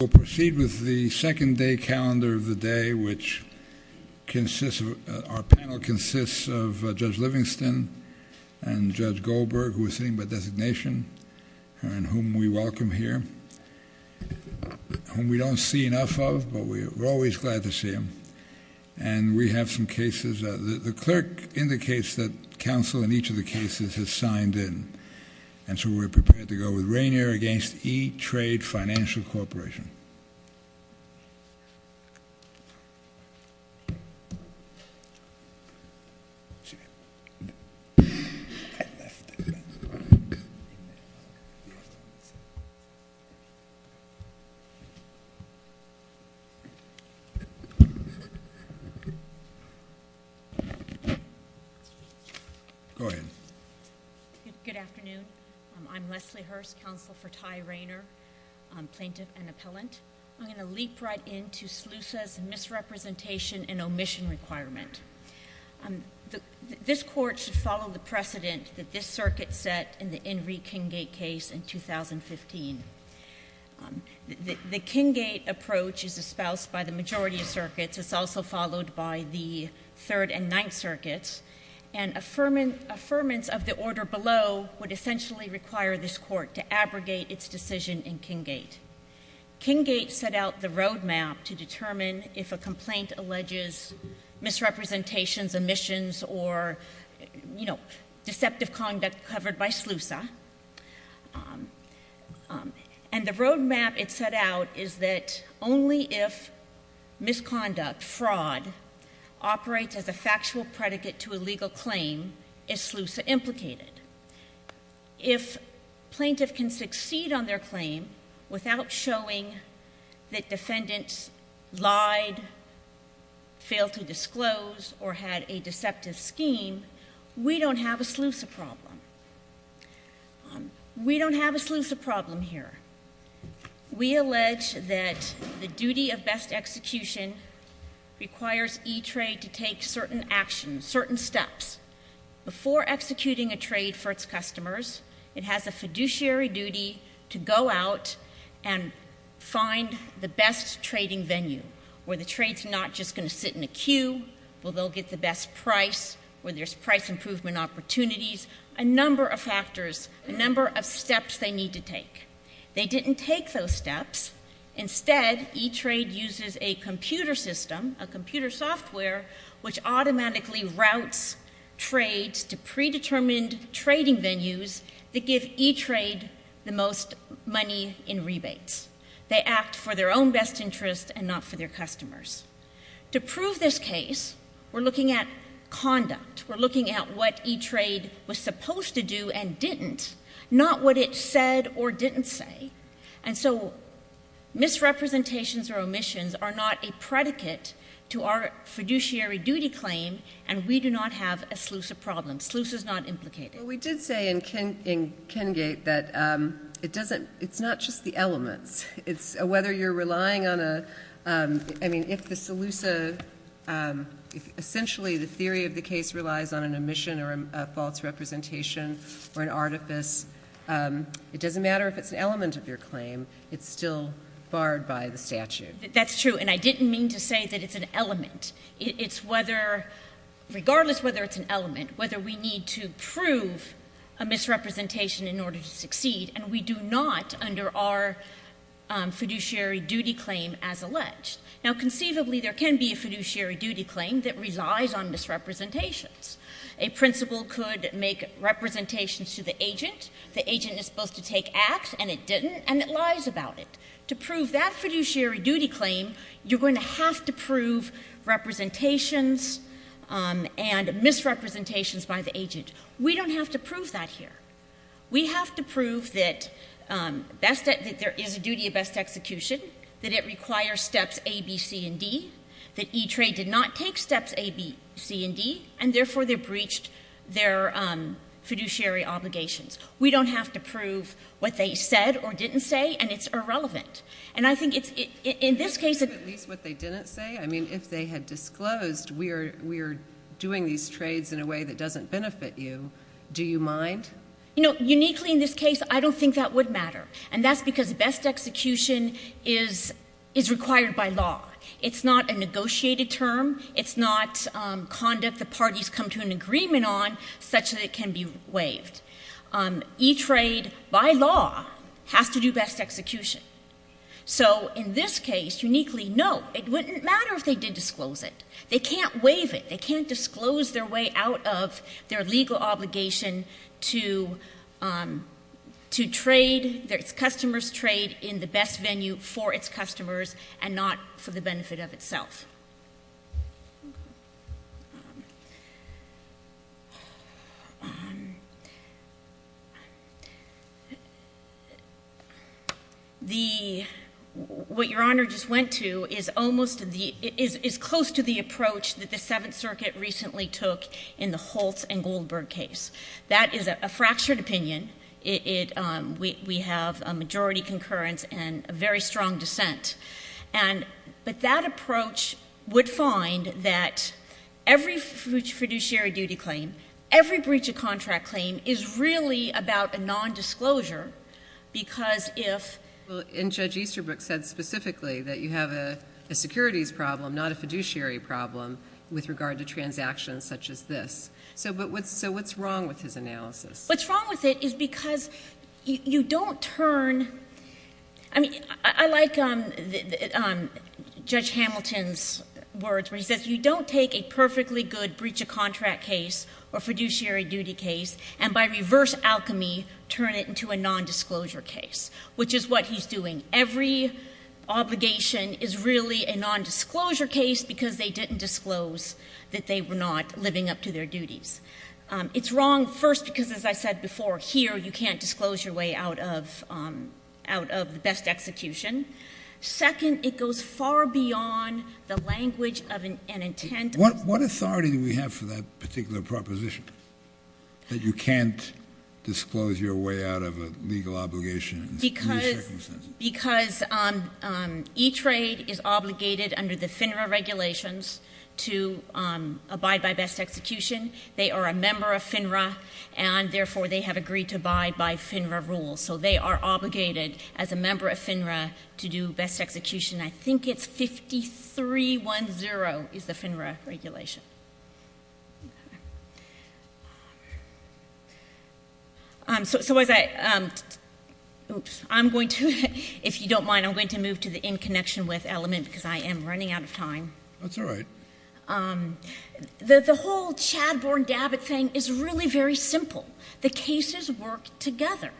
We'll proceed with the second day calendar of the day, which consists of, our panel consists of Judge Livingston and Judge Goldberg, who is sitting by designation, and whom we welcome here, whom we don't see enough of, but we're always glad to see him. And we have some cases. The clerk indicates that counsel in each of the cases has signed in. And so we're prepared to go with Rainer v. ETrade Financial Corporation. Go ahead. Good afternoon. I'm Leslie Hurst, counsel for Ty Rainer, plaintiff and appellant. I'm going to leap right into SLUSA's misrepresentation and omission requirement. This Court should follow the precedent that this circuit set in the Henry Kinggate case in 2015. The Kinggate approach is espoused by the majority of circuits. It's also followed by the Third and Ninth Circuits. And affirmance of the order below would essentially require this Court to abrogate its decision in Kinggate. Kinggate set out the roadmap to determine if a complaint alleges misrepresentations, omissions, or, you know, deceptive conduct covered by SLUSA. And the roadmap it set out is that only if misconduct, fraud, operates as a factual predicate to a legal claim is SLUSA implicated. If plaintiff can succeed on their claim without showing that defendants lied, failed to disclose, or had a deceptive scheme, we don't have a SLUSA problem. We don't have a SLUSA problem here. We allege that the duty of best execution requires eTrade to take certain actions, certain steps. Before executing a trade for its customers, it has a fiduciary duty to go out and find the best trading venue where the trade's not just going to sit in a queue, where they'll get the best price, where there's price improvement opportunities, a number of factors, a number of steps they need to take. They didn't take those steps. Instead, eTrade uses a computer system, a computer software, which automatically routes trades to predetermined trading venues that give eTrade the most money in rebates. They act for their own best interest and not for their customers. To prove this case, we're looking at conduct. We're looking at what eTrade was supposed to do and didn't, not what it said or didn't say. And so misrepresentations or omissions are not a predicate to our fiduciary duty claim, and we do not have a SLUSA problem. SLUSA's not implicated. Well, we did say in Kengate that it doesn't, it's not just the elements. It's whether you're relying on a, I mean, if the SLUSA, if essentially the theory of the case relies on an omission or a false representation or an artifice, it doesn't matter if it's an element of your claim. It's still barred by the statute. That's true, and I didn't mean to say that it's an element. It's whether, regardless whether it's an element, whether we need to prove a misrepresentation in order to succeed, and we do not under our fiduciary duty claim as alleged. Now, conceivably, there can be a fiduciary duty claim that relies on misrepresentations. A principal could make representations to the agent. The agent is supposed to take act, and it didn't, and it lies about it. To prove that fiduciary duty claim, you're going to have to prove representations and misrepresentations by the agent. We don't have to prove that here. We have to prove that there is a duty of best execution, that it requires steps A, B, C, and D, that E-Trade did not take steps A, B, C, and D, and therefore they breached their fiduciary obligations. We don't have to prove what they said or didn't say, and it's irrelevant. And I think it's, in this case— At least what they didn't say? I mean, if they had disclosed we are doing these trades in a way that doesn't benefit you, do you mind? You know, uniquely in this case, I don't think that would matter, and that's because best execution is required by law. It's not a negotiated term. It's not conduct the parties come to an agreement on such that it can be waived. E-Trade, by law, has to do best execution. So in this case, uniquely, no, it wouldn't matter if they did disclose it. They can't waive it. They can't disclose their way out of their legal obligation to trade, their customer's trade in the best venue for its customers and not for the benefit of itself. The—what Your Honor just went to is almost the—is close to the approach that the Seventh Circuit recently took in the Holtz and Goldberg case. That is a fractured opinion. It—we have a majority concurrence and a very strong dissent. And—but that approach would find that every fiduciary duty claim, every breach of contract claim is really about a nondisclosure because if— Well, and Judge Easterbrook said specifically that you have a securities problem, not a fiduciary problem, with regard to transactions such as this. So what's wrong with his analysis? What's wrong with it is because you don't turn—I mean, I like Judge Hamilton's words where he says you don't take a perfectly good breach of contract case or fiduciary duty case and by reverse alchemy turn it into a nondisclosure case, which is what he's doing. Every obligation is really a nondisclosure case because they didn't disclose that they were not living up to their duties. It's wrong first because, as I said before, here you can't disclose your way out of the best execution. Second, it goes far beyond the language of an intent— What authority do we have for that particular proposition, that you can't disclose your way out of a legal obligation in this circumstance? Because E-Trade is obligated under the FINRA regulations to abide by best execution. They are a member of FINRA, and therefore they have agreed to abide by FINRA rules. So they are obligated as a member of FINRA to do best execution. I think it's 53-1-0 is the FINRA regulation. So was I—oops. I'm going to—if you don't mind, I'm going to move to the in connection with element because I am running out of time. That's all right. The whole Chadbourne-Dabbitt thing is really very simple. The cases work together.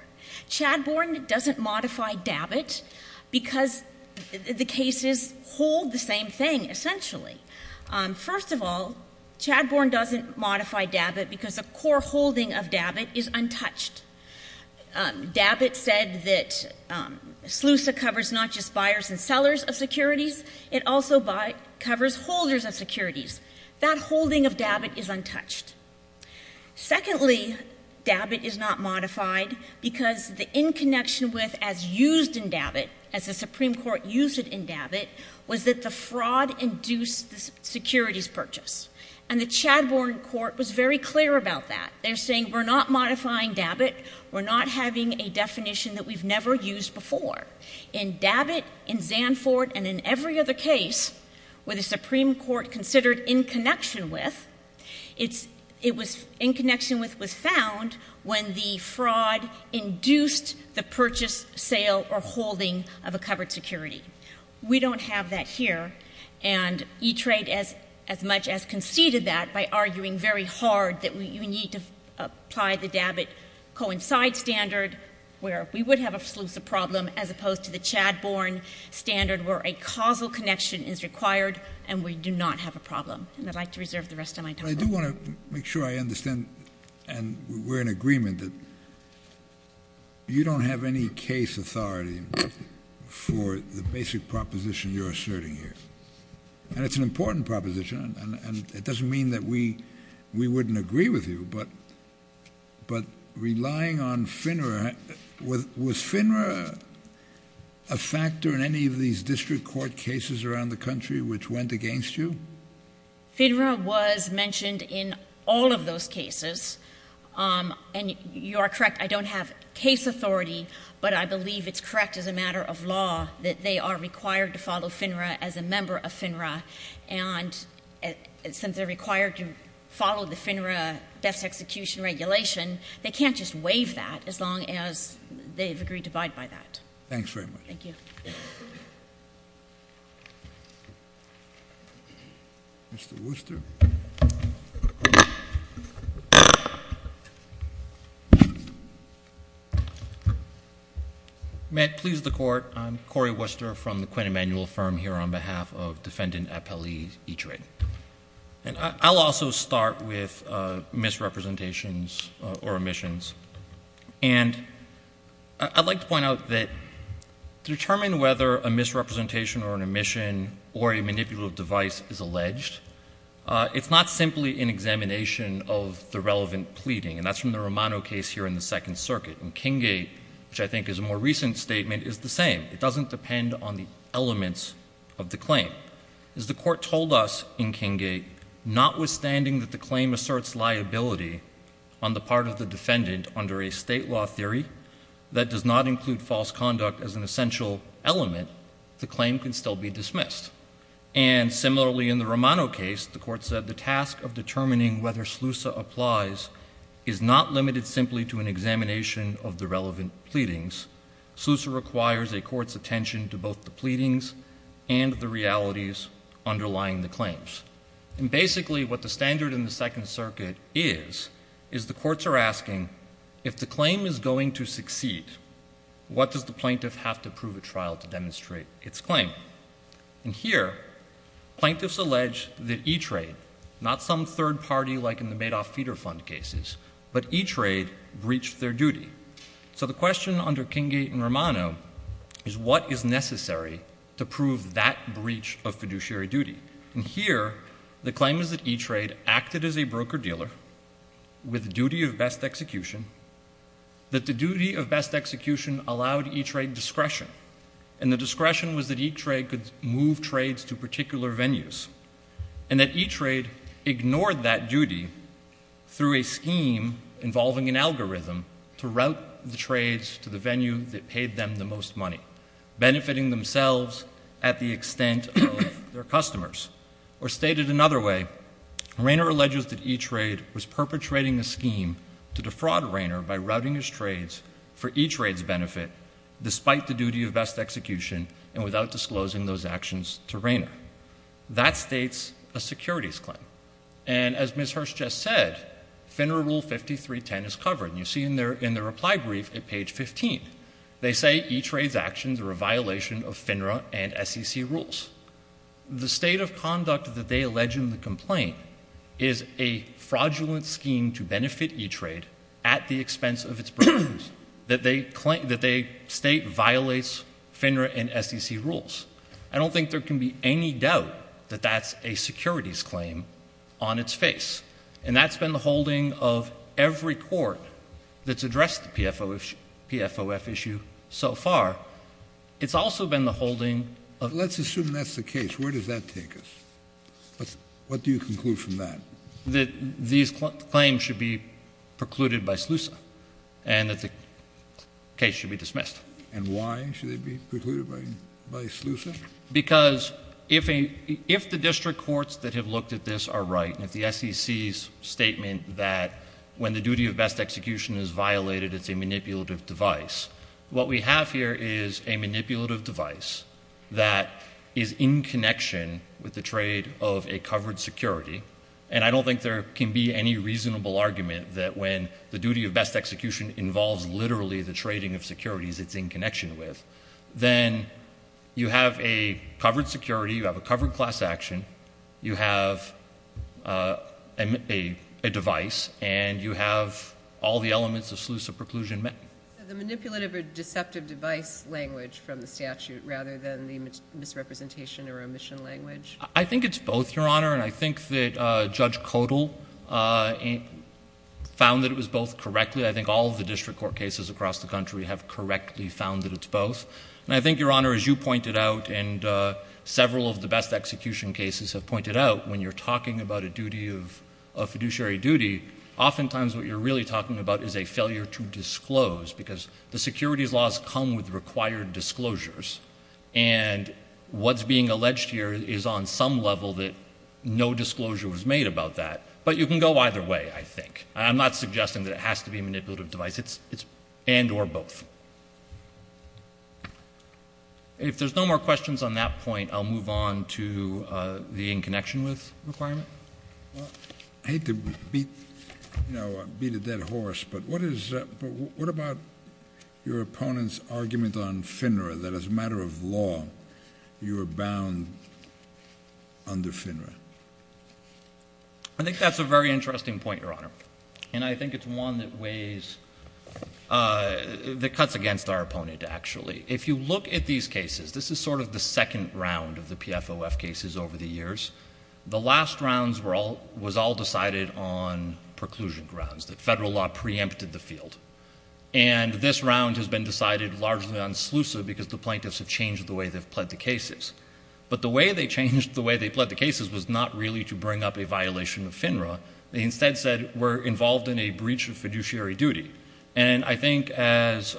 Chadbourne doesn't modify Dabbitt because the cases hold the same thing, essentially. First of all, Chadbourne doesn't modify Dabbitt because the core holding of Dabbitt is untouched. Dabbitt said that SLUSA covers not just buyers and sellers of securities. It also covers holders of securities. That holding of Dabbitt is untouched. Secondly, Dabbitt is not modified because the in connection with as used in Dabbitt, as the Supreme Court used it in Dabbitt, was that the fraud induced the securities purchase. And the Chadbourne court was very clear about that. They're saying we're not modifying Dabbitt. We're not having a definition that we've never used before. In Dabbitt, in Zanford, and in every other case where the Supreme Court considered in connection with, it was in connection with was found when the fraud induced the purchase, sale, or holding of a covered security. We don't have that here. And E-Trade as much as conceded that by arguing very hard that we need to apply the Dabbitt coincide standard where we would have a SLUSA problem as opposed to the Chadbourne standard where a causal connection is required and we do not have a problem. And I'd like to reserve the rest of my time. I do want to make sure I understand, and we're in agreement, that you don't have any case authority for the basic proposition you're asserting here. And it's an important proposition, and it doesn't mean that we wouldn't agree with you, but relying on FINRA, was FINRA a factor in any of these district court cases around the country which went against you? FINRA was mentioned in all of those cases. And you are correct, I don't have case authority, but I believe it's correct as a matter of law that they are required to follow FINRA as a member of FINRA. And since they're required to follow the FINRA death execution regulation, they can't just waive that as long as they've agreed to abide by that. Thanks very much. Thank you. Mr. Worcester. May it please the Court, I'm Corey Worcester from the Quinn Emanuel firm here on behalf of Defendant Appellee Eadre. And I'll also start with misrepresentations or omissions. And I'd like to point out that to determine whether a misrepresentation or an omission or a manipulative device is alleged, it's not simply an examination of the relevant pleading. And that's from the Romano case here in the Second Circuit. And Kinggate, which I think is a more recent statement, is the same. It doesn't depend on the elements of the claim. As the Court told us in Kinggate, notwithstanding that the claim asserts liability on the part of the defendant under a state law theory that does not include false conduct as an essential element, the claim can still be dismissed. And similarly in the Romano case, the Court said the task of determining whether SLUSA applies is not limited simply to an examination of the relevant pleadings. SLUSA requires a court's attention to both the pleadings and the realities underlying the claims. And basically what the standard in the Second Circuit is, is the courts are asking, if the claim is going to succeed, what does the plaintiff have to prove at trial to demonstrate its claim? And here, plaintiffs allege that E-Trade, not some third party like in the Madoff feeder fund cases, but E-Trade breached their duty. So the question under Kinggate and Romano is what is necessary to prove that breach of fiduciary duty? And here, the claim is that E-Trade acted as a broker-dealer with duty of best execution, that the duty of best execution allowed E-Trade discretion, and the discretion was that E-Trade could move trades to particular venues, and that E-Trade ignored that duty through a scheme involving an algorithm to route the trades to the venue that paid them the most money, benefiting themselves at the extent of their customers. Or stated another way, Rayner alleges that E-Trade was perpetrating a scheme to defraud Rayner by routing his trades for E-Trade's benefit, despite the duty of best execution and without disclosing those actions to Rayner. That states a securities claim. And as Ms. Hirsch just said, FINRA Rule 5310 is covered, and you see in the reply brief at page 15. They say E-Trade's actions are a violation of FINRA and SEC rules. The state of conduct that they allege in the complaint is a fraudulent scheme to benefit E-Trade at the expense of its brokers, that they state violates FINRA and SEC rules. I don't think there can be any doubt that that's a securities claim on its face, and that's been the holding of every court that's addressed the PFOF issue so far. It's also been the holding of... Let's assume that's the case. Where does that take us? What do you conclude from that? That these claims should be precluded by SLUSA, and that the case should be dismissed. And why should they be precluded by SLUSA? Because if the district courts that have looked at this are right, and if the SEC's statement that when the duty of best execution is violated, it's a manipulative device, what we have here is a manipulative device that is in connection with the trade of a covered security. And I don't think there can be any reasonable argument that when the duty of best execution involves literally the trading of securities, it's in connection with, then you have a covered security, you have a covered class action, you have a device, and you have all the elements of SLUSA preclusion met. So the manipulative or deceptive device language from the statute rather than the misrepresentation or omission language? I think it's both, Your Honor. And I think that Judge Kotel found that it was both correctly. I think all of the district court cases across the country have correctly found that it's both. And I think, Your Honor, as you pointed out and several of the best execution cases have pointed out, when you're talking about a duty of fiduciary duty, oftentimes what you're really talking about is a failure to disclose because the securities laws come with required disclosures. And what's being alleged here is on some level that no disclosure was made about that. But you can go either way, I think. I'm not suggesting that it has to be a manipulative device. It's and or both. If there's no more questions on that point, I'll move on to the in connection with requirement. I hate to beat a dead horse, but what about your opponent's argument on FINRA, that as a matter of law you are bound under FINRA? I think that's a very interesting point, Your Honor. And I think it's one that weighs, that cuts against our opponent, actually. If you look at these cases, this is sort of the second round of the PFOF cases over the years. The last rounds were all, was all decided on preclusion grounds, that federal law preempted the field. And this round has been decided largely on sluice because the plaintiffs have changed the way they've pled the cases. But the way they changed the way they pled the cases was not really to bring up a violation of FINRA. They instead said we're involved in a breach of fiduciary duty. And I think as,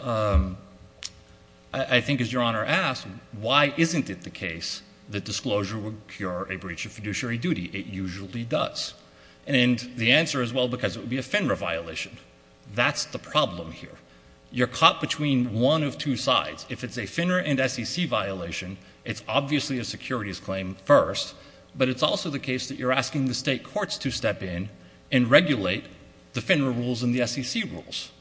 I think as Your Honor asked, why isn't it the case that disclosure would cure a breach of fiduciary duty? It usually does. And the answer is, well, because it would be a FINRA violation. That's the problem here. You're caught between one of two sides. If it's a FINRA and SEC violation, it's obviously a securities claim first, but it's also the case that you're asking the state courts to step in and regulate the FINRA rules and the SEC rules,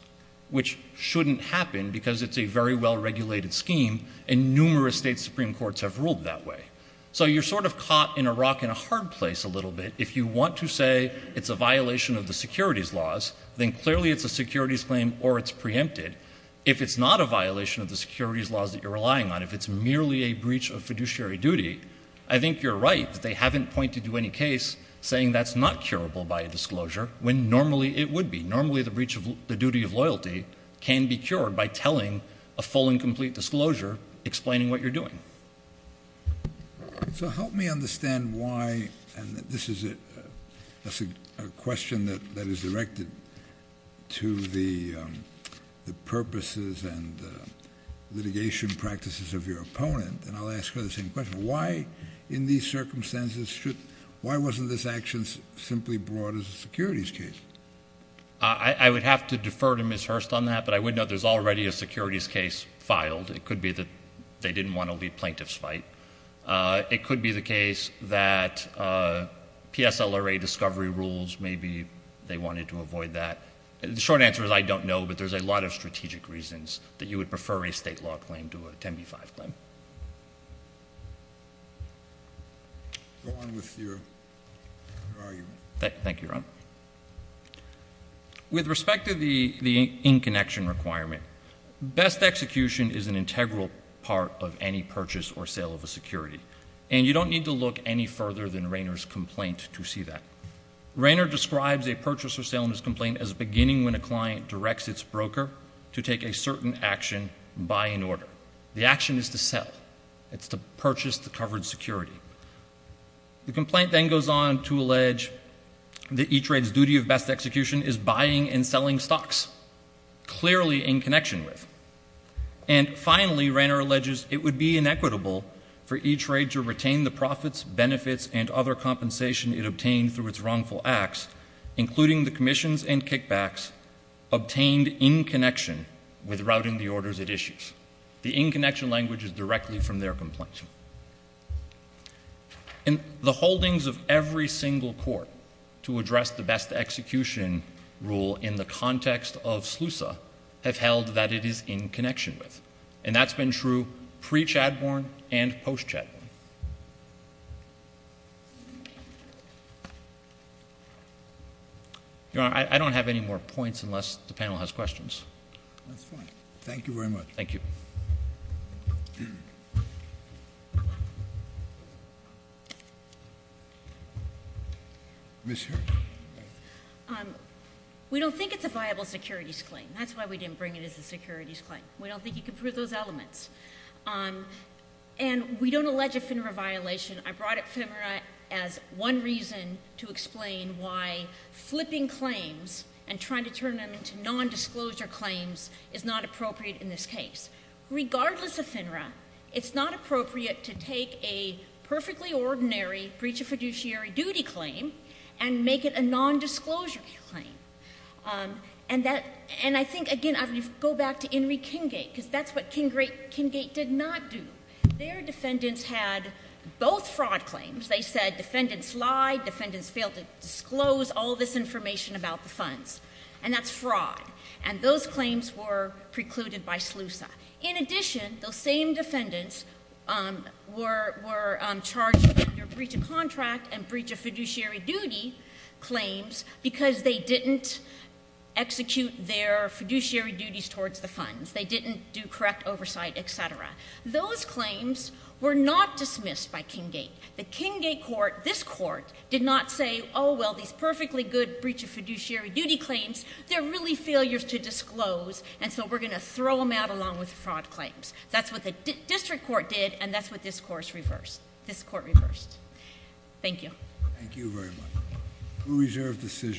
which shouldn't happen because it's a very well-regulated scheme, and numerous state supreme courts have ruled that way. So you're sort of caught in a rock and a hard place a little bit. If you want to say it's a violation of the securities laws, then clearly it's a securities claim or it's preempted. If it's not a violation of the securities laws that you're relying on, if it's merely a breach of fiduciary duty, I think you're right. They haven't pointed to any case saying that's not curable by a disclosure when normally it would be. Normally the breach of the duty of loyalty can be cured by telling a full and complete disclosure explaining what you're doing. So help me understand why, and this is a question that is directed to the purposes and litigation practices of your opponent, and I'll ask her the same question. Why, in these circumstances, why wasn't this action simply brought as a securities case? I would have to defer to Ms. Hurst on that, but I would note there's already a securities case filed. It could be that they didn't want to lead plaintiff's fight. It could be the case that PSLRA discovery rules, maybe they wanted to avoid that. The short answer is I don't know, but there's a lot of strategic reasons that you would prefer a state law claim to a 10b-5 claim. Go on with your argument. Thank you, Ron. With respect to the in-connection requirement, best execution is an integral part of any purchase or sale of a security, and you don't need to look any further than Rayner's complaint to see that. Rayner describes a purchase or sale in his complaint as beginning when a client directs its broker to take a certain action, buy in order. The action is to sell. It's to purchase the covered security. The complaint then goes on to allege that E-Trade's duty of best execution is buying and selling stocks, clearly in connection with. And finally, Rayner alleges it would be inequitable for E-Trade to retain the profits, benefits, and other compensation it obtained through its wrongful acts, including the commissions and kickbacks, obtained in connection with routing the orders it issues. The in-connection language is directly from their complaint. And the holdings of every single court to address the best execution rule in the context of SLUSA have held that it is in connection with. And that's been true pre-Chadbourne and post-Chadbourne. Your Honor, I don't have any more points unless the panel has questions. That's fine. Thank you very much. Thank you. Ms. Hirsch. We don't think it's a viable securities claim. That's why we didn't bring it as a securities claim. We don't think you can prove those elements. And we don't allege ephemera violation. I brought ephemera as one reason to explain why flipping claims and trying to turn them into nondisclosure claims is not appropriate in this case. Regardless of ephemera, it's not appropriate to take a perfectly ordinary breach of fiduciary duty claim and make it a nondisclosure claim. And I think, again, I would go back to Henry Kinggate because that's what Kinggate did not do. Their defendants had both fraud claims. They said defendants lied, defendants failed to disclose all this information about the funds. And that's fraud. And those claims were precluded by SLUSA. In addition, those same defendants were charged with breach of contract and breach of fiduciary duty claims because they didn't execute their fiduciary duties towards the funds. They didn't do correct oversight, et cetera. Those claims were not dismissed by Kinggate. The Kinggate court, this court, did not say, oh, well, these perfectly good breach of fiduciary duty claims, they're really failures to disclose, and so we're going to throw them out along with fraud claims. That's what the district court did, and that's what this court reversed. Thank you. Thank you very much. We reserve decision.